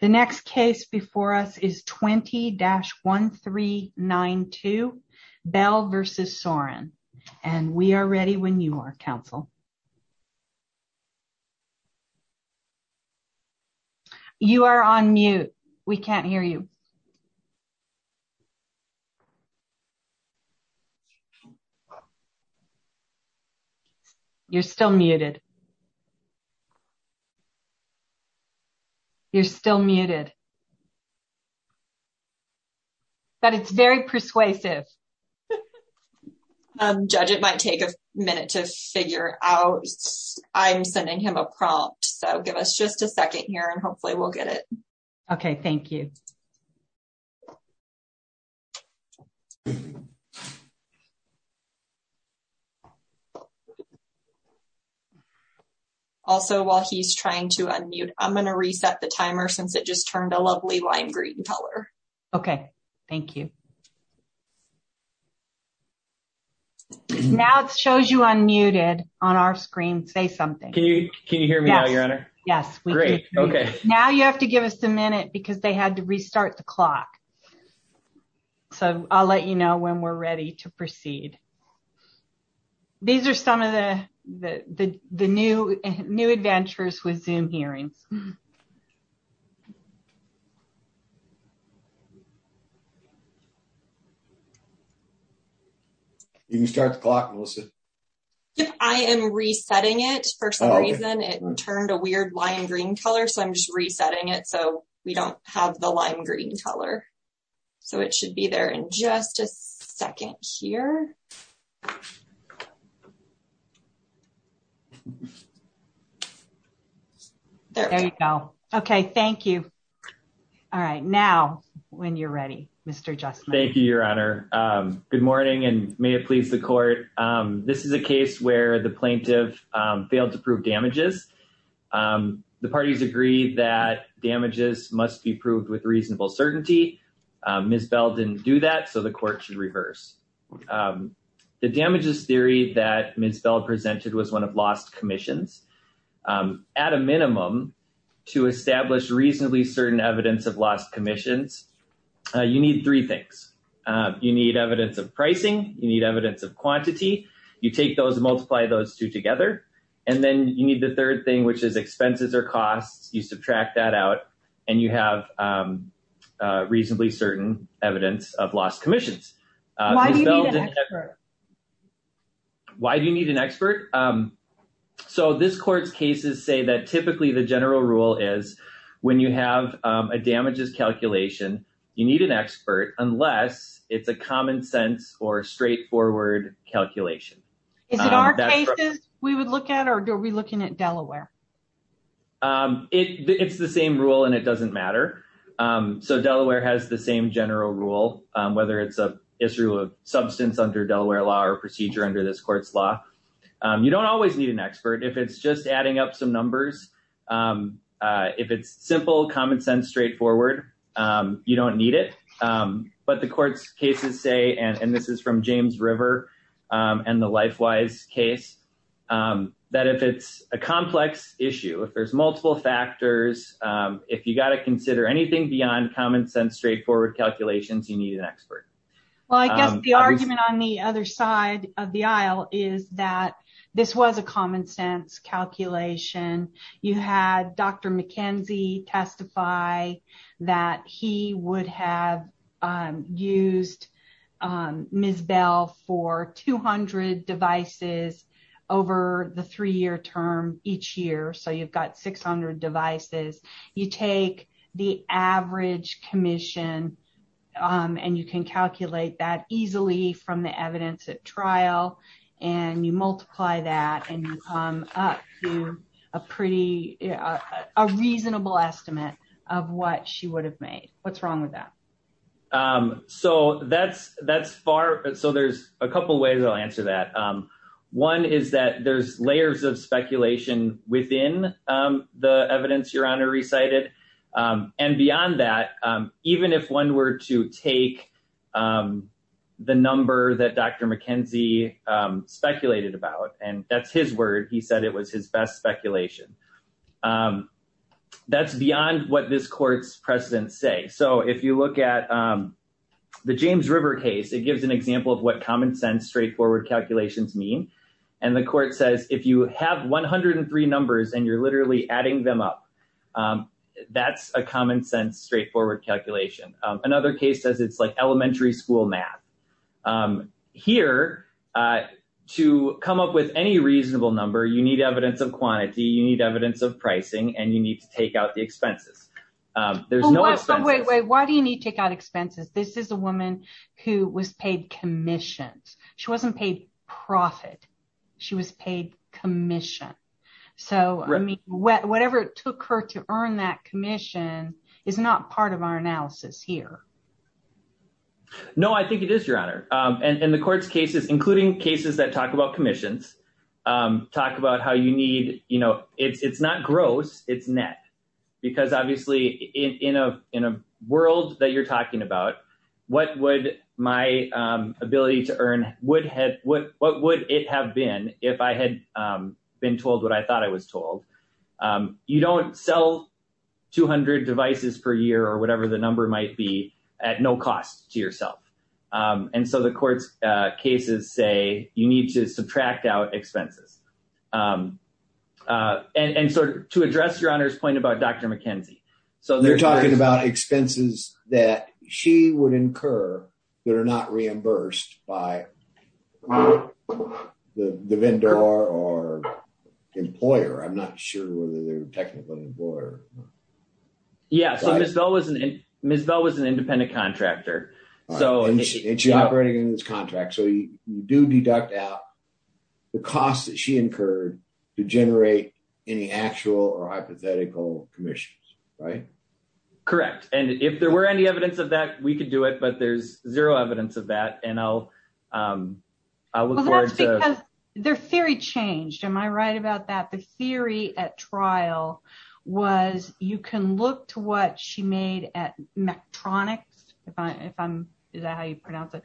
The next case before us is 20-1392 Bell v. Sorin, and we are ready when you are, Council. You are on mute. We can't hear you. You're still muted. You're still muted. But it's very persuasive. Judge, it might take a minute to figure out. I'm sending him a prompt. So give us just a second here and hopefully we'll get it. Okay, thank you. Also, while he's trying to unmute, I'm going to reset the timer since it just turned a lovely lime green color. Okay, thank you. Now it shows you unmuted on our screen. Say something. Can you hear me now, Your Honor? Yes. Great. Okay, now you have to give us a minute because they had to restart the clock. So I'll let you know when we're ready to proceed. These are some of the new adventures with Zoom hearings. You can start the clock, Melissa. I am resetting it for some reason. It turned a weird lime green color, so I'm just resetting it so we don't have the lime green color. So it should be there in just a second here. There you go. Okay, thank you. All right. Now, when you're ready, Mr. Justman. Thank you, Your Honor. Good morning and may it please the court. This is a case where the plaintiff failed to prove damages. The parties agree that damages must be proved with reasonable certainty. Ms. Bell didn't do that, so the court should reverse. The damages theory that Ms. Bell presented was one of lost commissions. At a minimum, to establish reasonably certain evidence of lost commissions, you need three things. You need evidence of pricing. You need evidence of quantity. You take those and multiply those two together. And then you need the third thing, which is expenses or costs. You subtract that out and you have reasonably certain evidence of lost commissions. Why do you need an expert? Why do you need an expert? So this court's cases say that typically the general rule is when you have a damages calculation, you need an expert unless it's a common sense or straightforward calculation. Is it our cases we would look at or are we looking at Delaware? It's the same rule and it doesn't matter. So Delaware has the same general rule, whether it's a history of substance under Delaware law or procedure under this court's law. You don't always need an expert if it's just adding up some numbers. If it's simple, common sense, straightforward, you don't need it. But the court's cases say, and this is from James River and the LifeWise case, that if it's a complex issue, if there's multiple factors, if you've got to consider anything beyond common sense, straightforward calculations, you need an expert. Well, I guess the argument on the other side of the aisle is that this was a common sense calculation. You had Dr. McKenzie testify that he would have used Ms. Bell for 200 devices over the three year term each year. So you've got 600 devices. You take the average commission and you can calculate that easily from the evidence at trial. And you multiply that and you come up to a pretty reasonable estimate of what she would have made. What's wrong with that? So that's that's far. So there's a couple of ways I'll answer that. One is that there's layers of speculation within the evidence your honor recited and beyond that, even if one were to take the number that Dr. McKenzie speculated about and that's his word, he said it was his best speculation. That's beyond what this court's precedents say. So if you look at the James River case, it gives an example of what common sense, straightforward calculations mean. And the court says if you have one hundred and three numbers and you're literally adding them up, that's a common sense, straightforward calculation. Another case says it's like elementary school math here to come up with any reasonable number. You need evidence of quantity. You need evidence of pricing and you need to take out the expenses. There's no way. Why do you need to take out expenses? This is a woman who was paid commissions. She wasn't paid profit. She was paid commission. So, I mean, whatever it took her to earn that commission is not part of our analysis here. No, I think it is your honor. And the court's cases, including cases that talk about commissions, talk about how you need. You know, it's not gross. It's net, because obviously in a world that you're talking about, what would my ability to earn? What would it have been if I had been told what I thought I was told? You don't sell 200 devices per year or whatever the number might be at no cost to yourself. And so the court's cases say you need to subtract out expenses and sort of to address your honor's point about Dr. McKenzie. So they're talking about expenses that she would incur that are not reimbursed by the vendor or employer. I'm not sure whether they're technically employer. Yes, I was. And Ms. Bell was an independent contractor. So, and she's operating in this contract. So you do deduct out the cost that she incurred to generate any actual or hypothetical commissions, right? Correct. And if there were any evidence of that, we could do it. But there's zero evidence of that. I look forward to their theory changed. Am I right about that? The theory at trial was you can look to what she made at metronics. If I'm how you pronounce it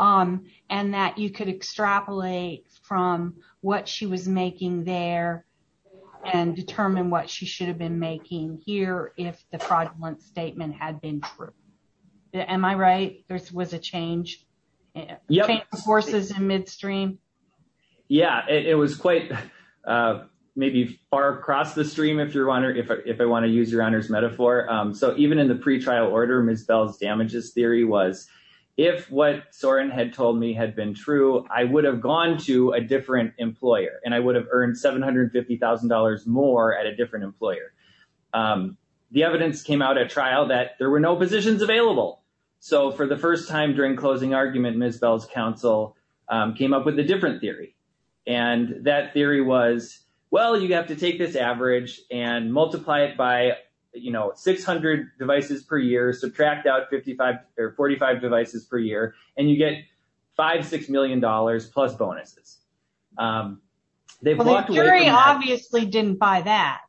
and that you could extrapolate from what she was making there and determine what she should have been making here. If the fraudulent statement had been true. Am I right? This was a change forces in midstream. Yeah, it was quite maybe far across the stream. If you're wondering if I want to use your honor's metaphor. So even in the pretrial order, Ms. Bell's damages theory was if what Sorin had told me had been true. I would have gone to a different employer and I would have earned $750,000 more at a different employer. The evidence came out at trial that there were no positions available. So for the first time during closing argument, Ms. Bell's counsel came up with a different theory. And that theory was, well, you have to take this average and multiply it by, you know, 600 devices per year. Subtract out 55 or 45 devices per year and you get five, six million dollars plus bonuses. They've walked away. Obviously, didn't buy that.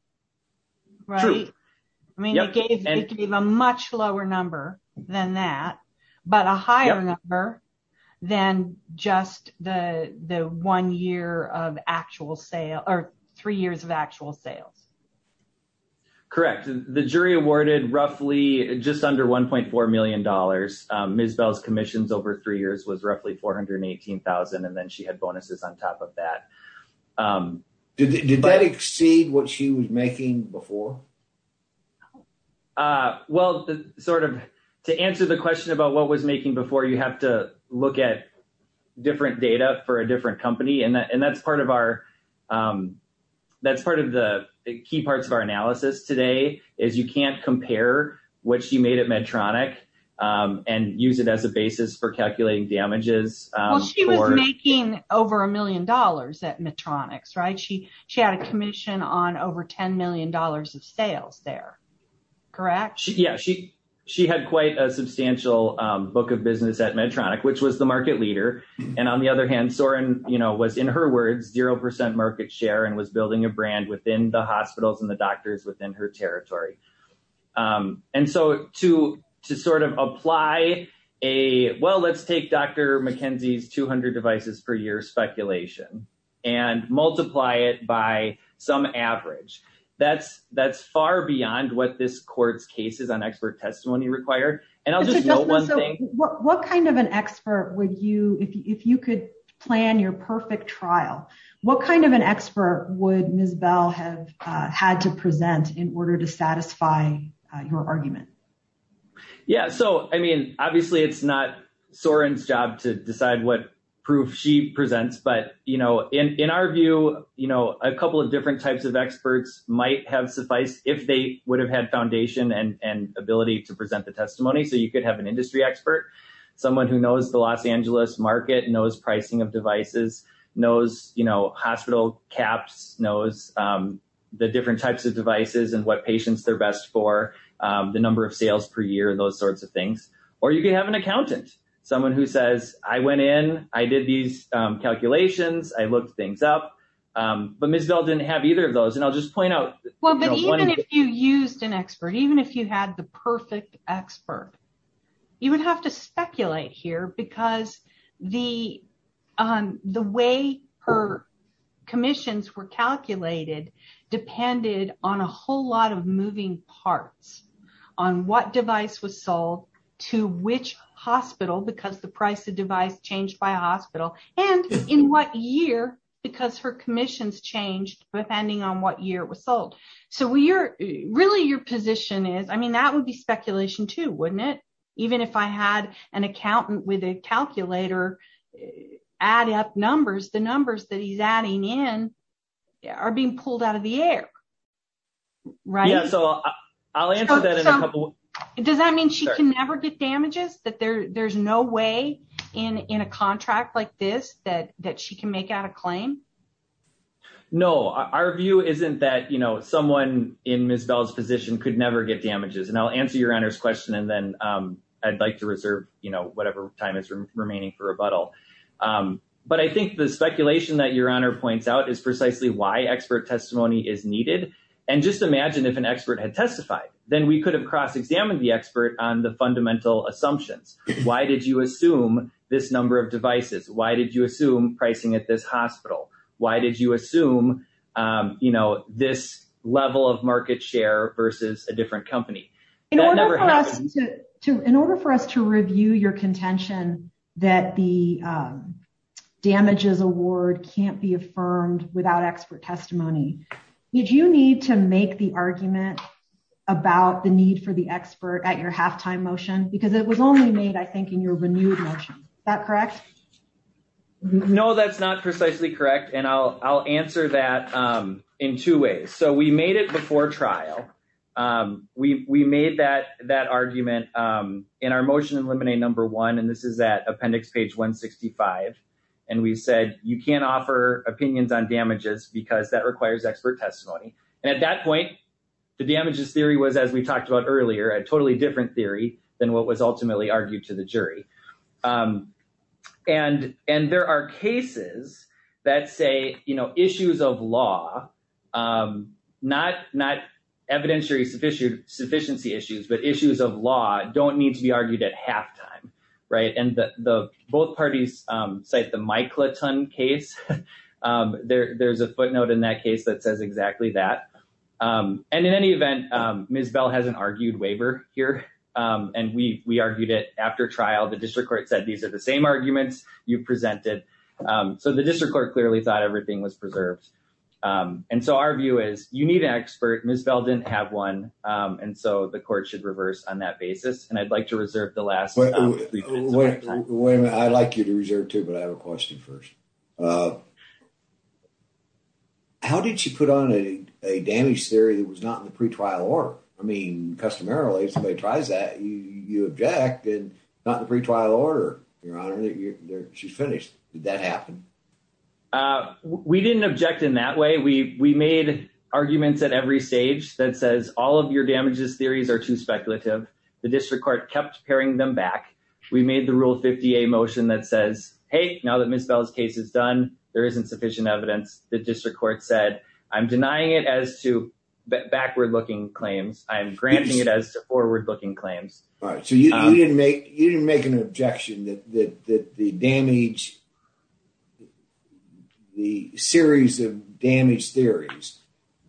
Right. I mean, it gave a much lower number than that, but a higher number than just the one year of actual sale or three years of actual sales. Correct. The jury awarded roughly just under one point four million dollars. Ms. Bell's commissions over three years was roughly four hundred and eighteen thousand. And then she had bonuses on top of that. Did that exceed what she was making before? Well, sort of to answer the question about what was making before you have to look at different data for a different company. And that's part of our that's part of the key parts of our analysis today is you can't compare what you made at Medtronic and use it as a basis for calculating damages. She was making over a million dollars at Medtronic. Right. She she had a commission on over 10 million dollars of sales there. Correct. Yeah, she she had quite a substantial book of business at Medtronic, which was the market leader. And on the other hand, Sorin, you know, was in her words, zero percent market share and was building a brand within the hospitals and the doctors within her territory. And so to to sort of apply a well, let's take Dr. McKenzie's two hundred devices per year speculation and multiply it by some average. That's that's far beyond what this court's cases on expert testimony require. What kind of an expert would you if you could plan your perfect trial? What kind of an expert would Ms. Bell have had to present in order to satisfy your argument? Yeah. So, I mean, obviously, it's not Sorin's job to decide what proof she presents. But, you know, in our view, you know, a couple of different types of experts might have suffice if they would have had foundation and ability to present the testimony. So you could have an industry expert, someone who knows the Los Angeles market, knows pricing of devices, knows, you know, hospital caps, knows the different types of devices and what patients they're best for, the number of sales per year, those sorts of things. Or you could have an accountant, someone who says, I went in, I did these calculations, I looked things up. But Ms. Bell didn't have either of those. And I'll just point out. Well, but even if you used an expert, even if you had the perfect expert, you would have to speculate here because the way her commissions were calculated depended on a whole lot of moving parts on what device was sold to which hospital because the price of device changed by hospital. And in what year, because her commissions changed depending on what year was sold. So we are really your position is, I mean, that would be speculation too, wouldn't it? Even if I had an accountant with a calculator, add up numbers, the numbers that he's adding in are being pulled out of the air. Right. So I'll answer that in a couple. Does that mean she can never get damages that there's no way in a contract like this that that she can make out a claim? No, our view isn't that, you know, someone in Ms. Bell's position could never get damages. And I'll answer your honor's question. And then I'd like to reserve, you know, whatever time is remaining for rebuttal. But I think the speculation that your honor points out is precisely why expert testimony is needed. And just imagine if an expert had testified, then we could have cross examined the expert on the fundamental assumptions. Why did you assume this number of devices? Why did you assume pricing at this hospital? Why did you assume, you know, this level of market share versus a different company? In order for us to review your contention that the damages award can't be affirmed without expert testimony, did you need to make the argument about the need for the expert at your halftime motion? Because it was only made, I think, in your renewed motion. Is that correct? No, that's not precisely correct. And I'll answer that in two ways. So we made it before trial. We made that argument in our motion in limine number one, and this is that appendix page 165. And we said, you can't offer opinions on damages because that requires expert testimony. And at that point, the damages theory was, as we talked about earlier, a totally different theory than what was ultimately argued to the jury. And there are cases that say, you know, issues of law, not evidentiary sufficiency issues, but issues of law don't need to be argued at halftime, right? And both parties cite the Miclaton case. There's a footnote in that case that says exactly that. And in any event, Ms. Bell has an argued waiver here. And we argued it after trial. The district court said these are the same arguments you presented. So the district court clearly thought everything was preserved. And so our view is, you need an expert. Ms. Bell didn't have one. And so the court should reverse on that basis. And I'd like to reserve the last three minutes of my time. Wait a minute. I'd like you to reserve, too, but I have a question first. How did you put on a damage theory that was not in the pretrial order? I mean, customarily, if somebody tries that, you object, and not in the pretrial order. Your Honor, she's finished. Did that happen? We didn't object in that way. We made arguments at every stage that says all of your damages theories are too speculative. The district court kept pairing them back. We made the Rule 50A motion that says, hey, now that Ms. Bell's case is done, there isn't sufficient evidence. The district court said, I'm denying it as to backward-looking claims. I'm granting it as to forward-looking claims. All right. So you didn't make an objection that the series of damage theories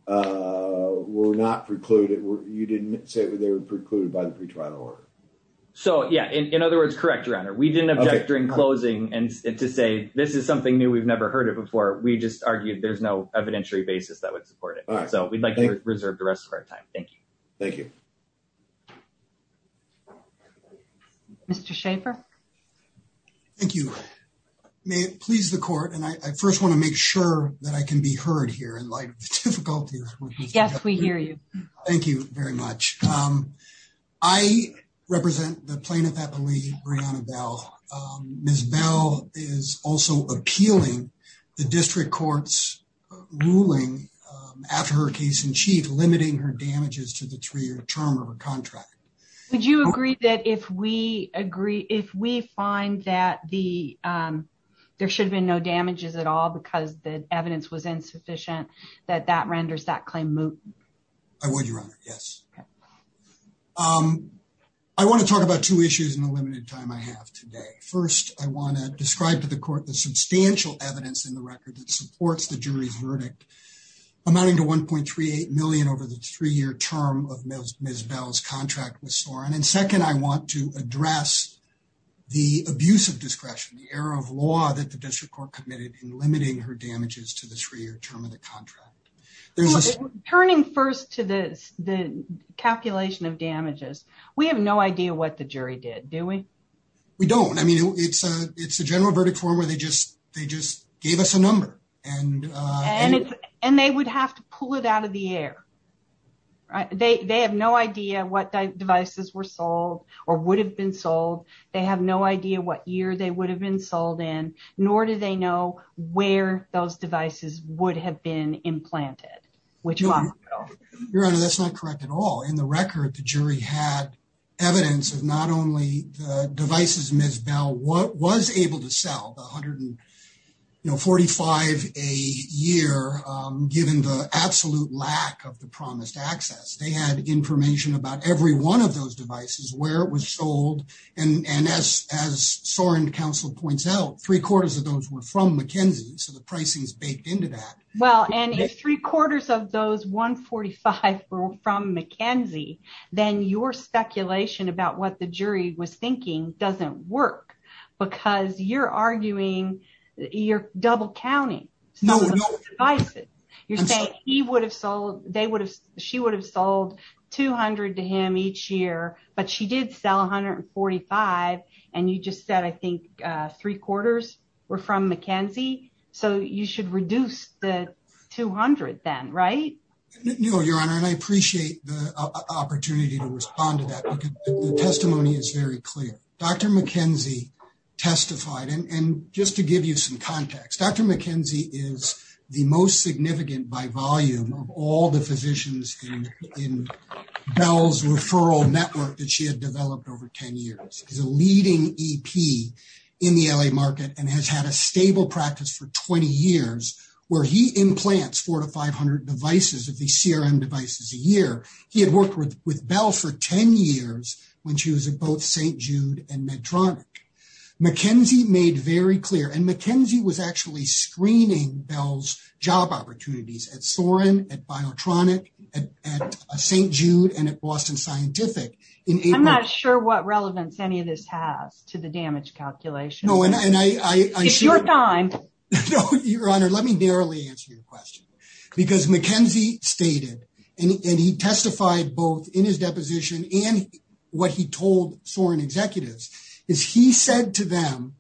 were not precluded. You didn't say they were precluded by the pretrial order. So, yeah. In other words, correct, Your Honor. We didn't object during closing to say this is something new. We've never heard it before. We just argued there's no evidentiary basis that would support it. So we'd like to reserve the rest of our time. Thank you. Thank you. Mr. Schaffer. Thank you. May it please the court, and I first want to make sure that I can be heard here in light of the difficulties. Yes, we hear you. Thank you very much. I represent the plaintiff, I believe, Brianna Bell. Ms. Bell is also appealing the district court's ruling after her case in chief limiting her damages to the three-year term of her contract. Would you agree that if we find that there should have been no damages at all because the evidence was insufficient, that that renders that claim moot? I would, Your Honor, yes. I want to talk about two issues in the limited time I have today. First, I want to describe to the court the substantial evidence in the record that supports the jury's verdict, amounting to $1.38 million over the three-year term of Ms. Bell's contract with Soren. And second, I want to address the abuse of discretion, the error of law that the district court committed in limiting her damages to the three-year term of the contract. Turning first to the calculation of damages, we have no idea what the jury did, do we? We don't. I mean, it's a general verdict form where they just gave us a number. And they would have to pull it out of the air. They have no idea what devices were sold or would have been sold. They have no idea what year they would have been sold in, nor do they know where those devices would have been implanted. Your Honor, that's not correct at all. In the record, the jury had evidence of not only the devices Ms. Bell was able to sell, 145 a year, given the absolute lack of the promised access. They had information about every one of those devices, where it was sold. And as Soren counsel points out, three-quarters of those were from McKinsey, so the pricing is baked into that. Well, and if three-quarters of those 145 were from McKinsey, then your speculation about what the jury was thinking doesn't work. Because you're arguing, you're double-counting some of those devices. You're saying he would have sold, she would have sold 200 to him each year, but she did sell 145. And you just said, I think, three-quarters were from McKinsey, so you should reduce the 200 then, right? No, Your Honor, and I appreciate the opportunity to respond to that, because the testimony is very clear. Dr. McKinsey testified, and just to give you some context, Dr. McKinsey is the most significant by volume of all the physicians in Bell's referral network that she had developed over 10 years. She's a leading EP in the L.A. market and has had a stable practice for 20 years, where he implants 400 to 500 devices of these CRM devices a year. He had worked with Bell for 10 years when she was at both St. Jude and Medtronic. McKinsey made very clear, and McKinsey was actually screening Bell's job opportunities at Soren, at Biotronic, at St. Jude, and at Boston Scientific. I'm not sure what relevance any of this has to the damage calculation. It's your time. Your Honor, let me narrowly answer your question, because McKinsey stated, and he testified both in his deposition and what he told Soren executives, is he said to them,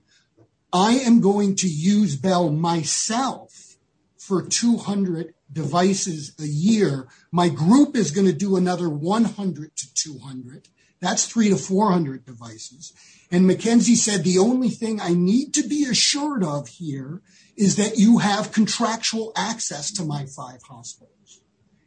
I am going to use Bell myself for 200 devices a year. My group is going to do another 100 to 200. That's 300 to 400 devices. And McKinsey said, the only thing I need to be assured of here is that you have contractual access to my five hospitals.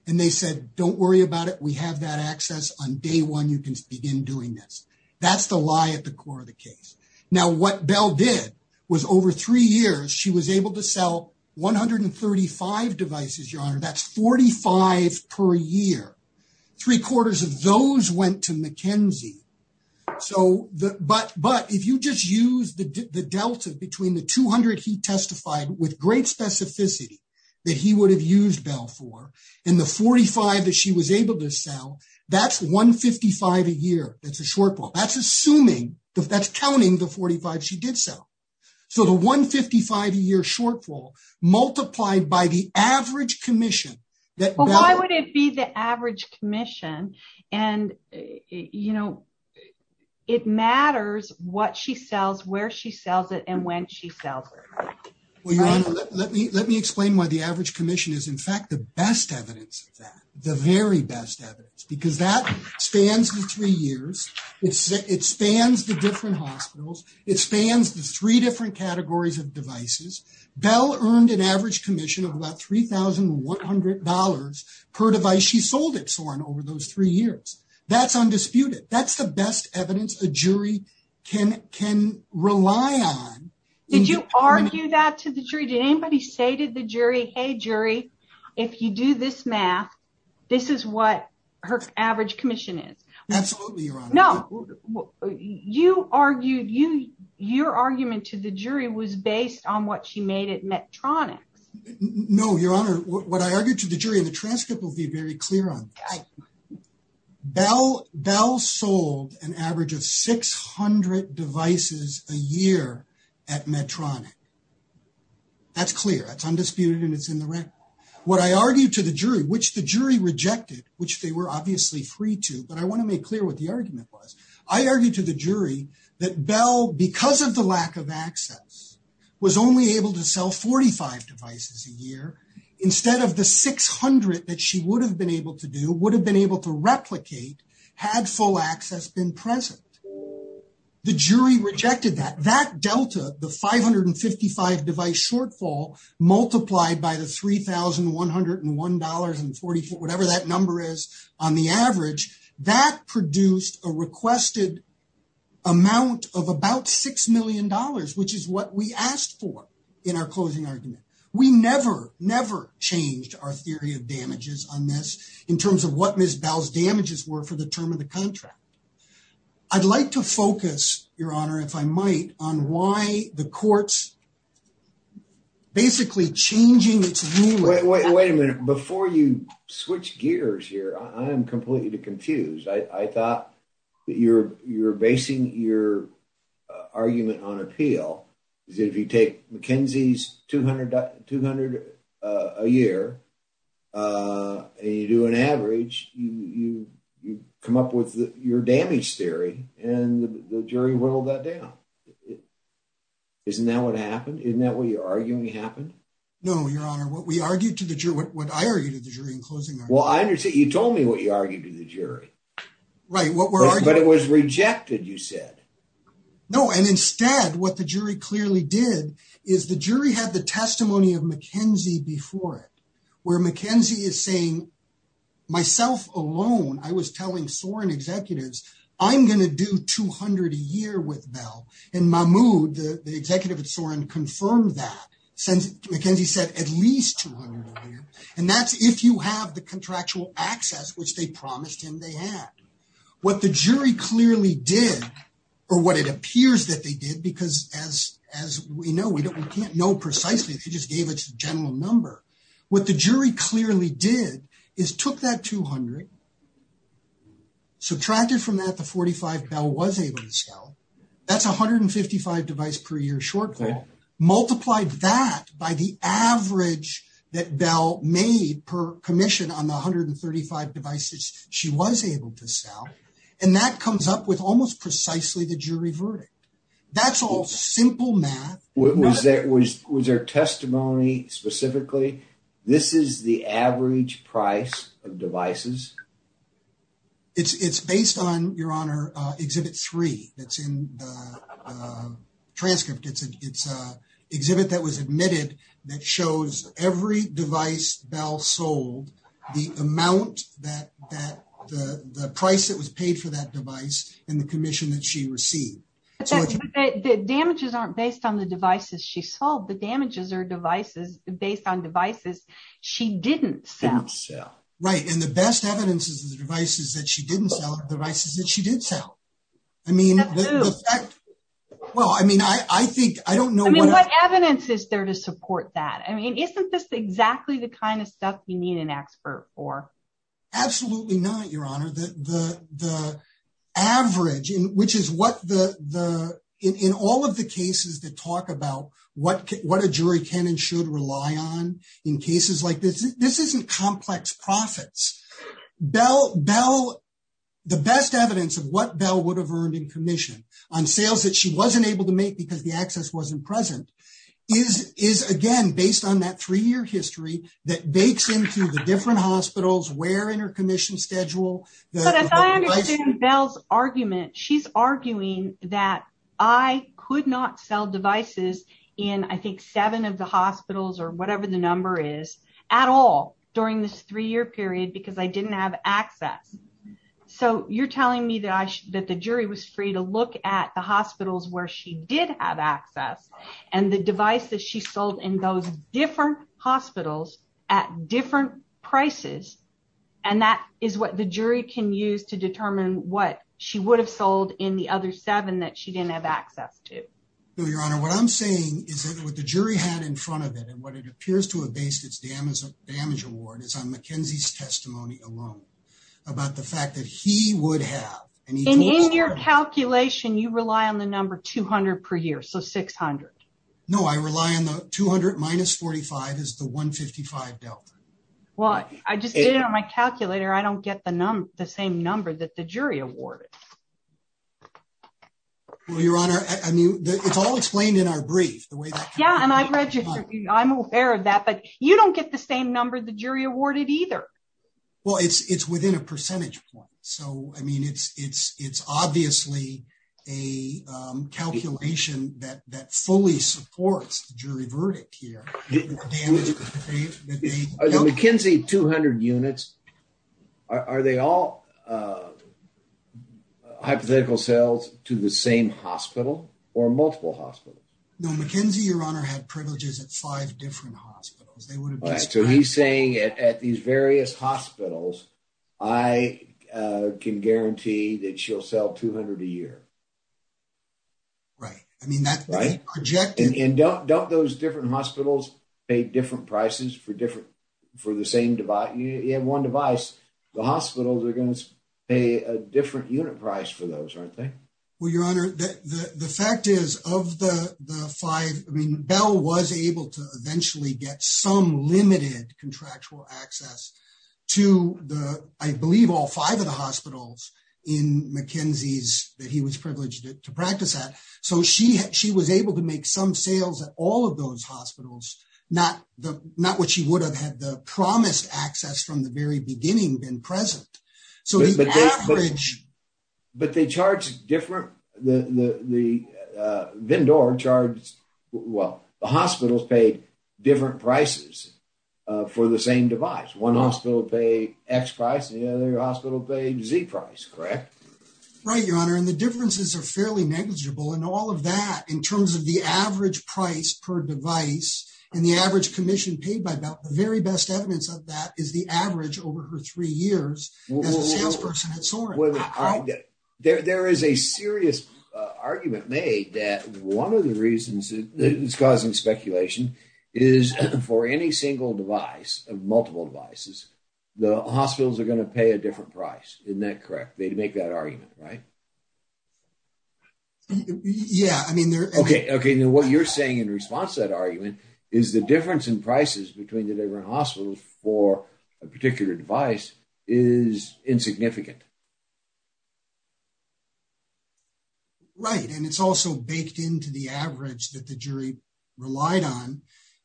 And they said, don't worry about it. We have that access. On day one, you can begin doing this. That's the lie at the core of the case. Now, what Bell did was over three years, she was able to sell 135 devices, Your Honor. That's 45 per year. Three quarters of those went to McKinsey. But if you just use the delta between the 200 he testified with great specificity that he would have used Bell for, and the 45 that she was able to sell, that's 155 a year. That's a shortfall. That's assuming that's counting the 45 she did sell. So the 155 a year shortfall multiplied by the average commission. Why would it be the average commission? And, you know, it matters what she sells, where she sells it, and when she sells it. Let me explain why the average commission is, in fact, the best evidence of that. The very best evidence, because that spans the three years. It spans the different hospitals. It spans the three different categories of devices. Bell earned an average commission of about $3,100 per device she sold it for over those three years. That's undisputed. That's the best evidence a jury can rely on. Did you argue that to the jury? Did anybody say to the jury, hey, jury, if you do this math, this is what her average commission is. Absolutely. No, you argued you your argument to the jury was based on what she made it metronics. No, Your Honor. The transcript will be very clear on Bell. Bell sold an average of 600 devices a year at Medtronic. That's clear. It's undisputed, and it's in the record. What I argued to the jury, which the jury rejected, which they were obviously free to, but I want to make clear what the argument was. I argued to the jury that Bell, because of the lack of access, was only able to sell 45 devices a year instead of the 600 that she would have been able to do, would have been able to replicate had full access been present. The jury rejected that that Delta, the 555 device shortfall multiplied by the 3101 dollars and 44 whatever that number is on the average that produced a requested amount of about 6 million dollars, which is what we asked for in our closing argument. We never, never changed our theory of damages on this in terms of what Miss Bell's damages were for the term of the contract. I'd like to focus, Your Honor, if I might, on why the courts. Basically changing it to wait a minute before you switch gears here. I'm completely confused. I thought that you're, you're basing your argument on appeal. If you take McKenzie's 200 a year, and you do an average, you come up with your damage theory, and the jury whittled that down. Isn't that what happened? Isn't that what you're arguing happened? No, Your Honor, what we argued to the jury, what I argued to the jury in closing argument. Well, I understand, you told me what you argued to the jury. Right, what we're arguing. But it was rejected, you said. No, and instead, what the jury clearly did is the jury had the testimony of McKenzie before it, where McKenzie is saying, myself alone, I was telling Soren executives, I'm going to do 200 a year with Bell. And Mahmoud, the executive at Soren, confirmed that. McKenzie said at least 200 a year. And that's if you have the contractual access, which they promised him they had. What the jury clearly did, or what it appears that they did, because as, as we know, we don't, we can't know precisely, they just gave us a general number. What the jury clearly did is took that 200, subtracted from that the 45 Bell was able to sell, that's 155 device per year shortfall, multiplied that by the average that Bell made per commission on the 135 devices she was able to sell. And that comes up with almost precisely the jury verdict. That's all simple math. Was there testimony specifically? This is the average price of devices. It's it's based on your honor exhibit three that's in the transcript it's it's a exhibit that was admitted that shows every device Bell sold the amount that that the price that was paid for that device, and the commission that she received. The damages aren't based on the devices she sold the damages or devices based on devices. She didn't sell. Right. And the best evidence is devices that she didn't sell devices that she did sell. I mean, well I mean I think I don't know what evidence is there to support that I mean isn't this exactly the kind of stuff you need an expert for. Absolutely not your honor the average in which is what the, the, in all of the cases that talk about what what a jury can and should rely on in cases like this, this isn't complex profits bell bell. The best evidence of what bell would have earned in commission on sales that she wasn't able to make because the access wasn't present is is again based on that three year history that bakes into the different hospitals were in her commission schedule. Bell's argument she's arguing that I could not sell devices in I think seven of the hospitals or whatever the number is at all. During this three year period because I didn't have access. So you're telling me that I should that the jury was free to look at the hospitals where she did have access, and the device that she sold in those different hospitals at different prices. And that is what the jury can use to determine what she would have sold in the other seven that she didn't have access to. No, your honor what I'm saying is that what the jury had in front of it and what it appears to have based its damage damage award is on McKenzie's testimony alone, about the fact that he would have any in your calculation you rely on the number 200 per year so 600. No, I rely on the 200 minus 45 is the 155 delta. Well, I just did on my calculator I don't get the number, the same number that the jury awarded. Your Honor, I mean, it's all explained in our brief, the way that yeah and I read you. I'm aware of that but you don't get the same number the jury awarded either. Well, it's it's within a percentage point. So, I mean, it's, it's, it's obviously a calculation that that fully supports jury verdict here. McKinsey 200 units. Are they all hypothetical cells to the same hospital, or multiple hospital. No McKenzie your honor had privileges at five different hospitals, they would have to be saying it at these various hospitals. I can guarantee that she'll sell 200 a year. Right. I mean, that's right. And don't don't those different hospitals, pay different prices for different for the same device you have one device, the hospitals are going to pay a different unit price for those aren't they. Well, Your Honor, the fact is, of the five mean bell was able to eventually get some limited contractual access to the, I believe all five of the hospitals in McKinsey's that he was privileged to practice that. So she had she was able to make some sales at all of those hospitals, not the not what she would have had the promised access from the very beginning been present. So, but they charge different, the, the, the vendor charge. Well, the hospitals paid different prices for the same device one hospital pay X price and the other hospital page Z price correct. Right, Your Honor and the differences are fairly negligible and all of that in terms of the average price per device, and the average commission paid by about the very best evidence of that is the average over her three years. There is a serious argument made that 1 of the reasons that is causing speculation is for any single device of multiple devices. The hospitals are going to pay a different price in that correct they make that argument right. Yeah, I mean they're okay okay now what you're saying in response that argument is the difference in prices between the different hospitals for a particular device is insignificant. Right, and it's also baked into the average that the jury relied on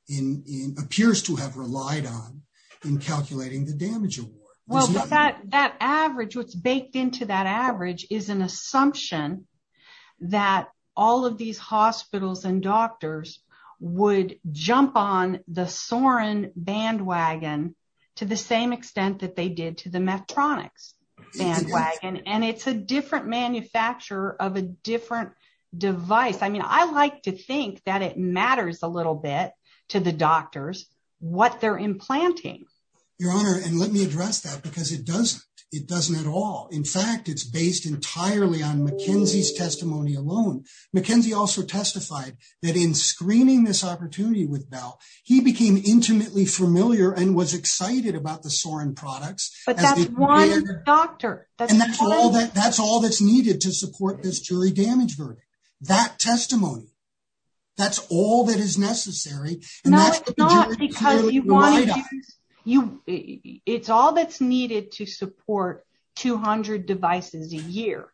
in in appears to have relied on in calculating the damage. That average what's baked into that average is an assumption that all of these hospitals and doctors would jump on the Soren bandwagon, to the same extent that they did to the metronics bandwagon and it's a different manufacturer of a different device I mean I like to think that it matters a little bit to the doctors, what they're implanting, Your Honor, and let me address that because it doesn't, it doesn't at all. In fact, it's based entirely on McKenzie's testimony alone. McKenzie also testified that in screening this opportunity with Val, he became intimately familiar and was excited about the Soren products. But that's one doctor. That's all that's needed to support this jury damage verdict. That testimony. That's all that is necessary. Because you want to use you. It's all that's needed to support 200 devices a year,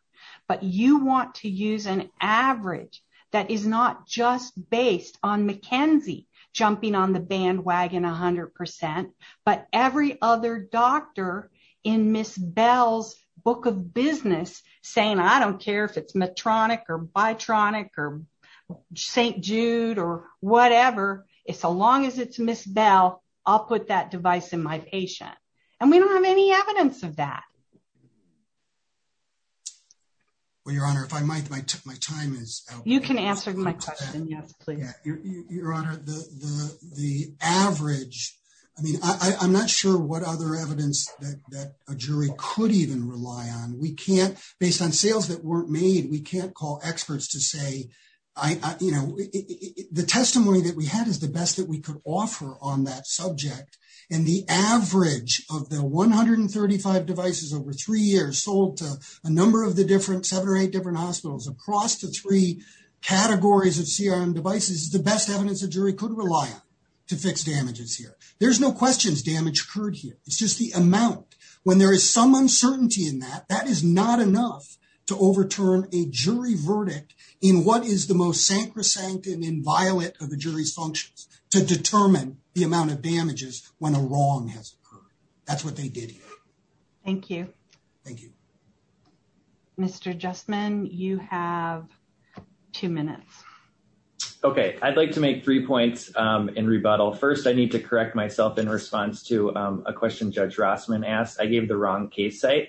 but you want to use an average that is not just based on McKenzie jumping on the bandwagon 100%, but every other doctor in Miss Bell's book of business, saying I don't care if it's Miss Bell, I'll put that device in my patient, and we don't have any evidence of that. Well, Your Honor, if I might, my time is, you can answer my question yes please. Your Honor, the, the average. I mean, I'm not sure what other evidence that a jury could even rely on we can't based on sales that weren't made we can't call experts to say, I, you know, the testimony that we had is the best that we could offer on that subject, and the average of the 135 devices over three years sold to a number of the different seven or eight different hospitals across the three categories of CRM devices the best evidence that a jury could rely on to fix damages here, there's no questions damage occurred here, it's just the amount when there is some uncertainty in that that is not enough to overturn a jury verdict in what is the most sacrosanct and inviolate of the jury's functions to determine the amount of damages, when a wrong has occurred. That's what they did. Thank you. Thank you. Mr just men, you have two minutes. Okay, I'd like to make three points in rebuttal first I need to correct myself in response to a question judge Rossman asked I gave the wrong case site.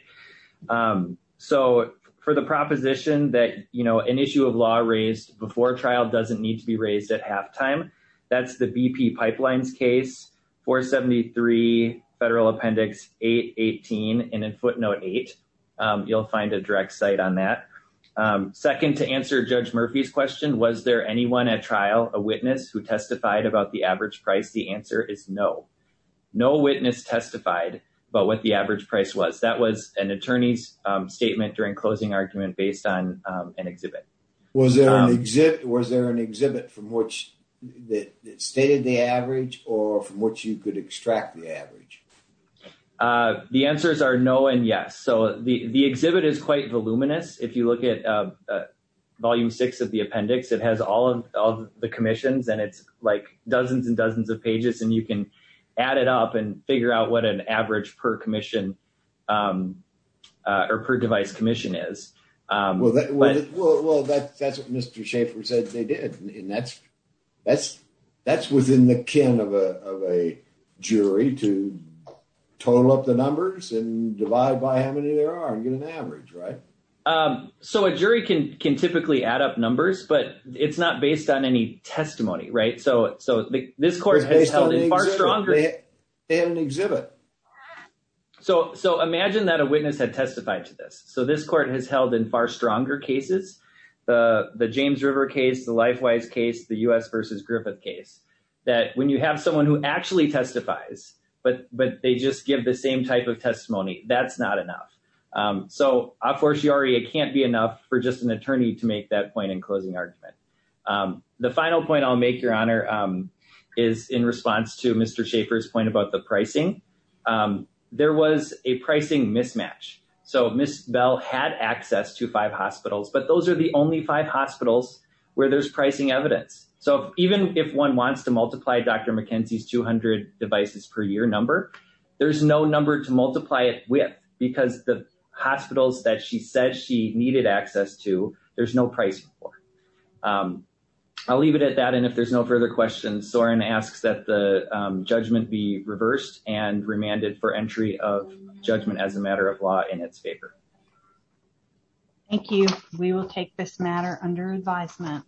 So, for the proposition that you know an issue of law raised before trial doesn't need to be raised at halftime. That's the BP pipelines case for 73 federal appendix, 818, and then footnote eight, you'll find a direct site on that. Second to answer judge Murphy's question was there anyone at trial, a witness who testified about the average price the answer is no. No witness testified, but what the average price was that was an attorney's statement during closing argument based on an exhibit. Was there an exhibit, was there an exhibit from which that stated the average, or from what you could extract the average. The answers are no and yes so the exhibit is quite voluminous, if you look at volume six of the appendix it has all of the commissions and it's like dozens and dozens of pages and you can add it up and figure out what an average per commission or per device commission is. Well, that's what Mr. Schaefer said they did. And that's, that's, that's within the can of a jury to total up the numbers and divide by how many there are and get an average right. So a jury can can typically add up numbers, but it's not based on any testimony right so so this court has held it far stronger. And exhibit. So, so imagine that a witness had testified to this so this court has held in far stronger cases. The James River case the life wise case the US versus Griffith case that when you have someone who actually testifies, but, but they just give the same type of testimony, that's not enough. So, of course you already it can't be enough for just an attorney to make that point in closing argument. The final point I'll make your honor is in response to Mr Schaefer's point about the pricing. There was a pricing mismatch. So Miss Bell had access to five hospitals but those are the only five hospitals where there's pricing evidence. So, even if one wants to multiply Dr McKenzie's 200 devices per year number. There's no number to multiply it with, because the hospitals that she said she needed access to. There's no price for. I'll leave it at that and if there's no further questions or and asks that the judgment be reversed and remanded for entry of judgment as a matter of law in its favor. Thank you. We will take this matter under advisement.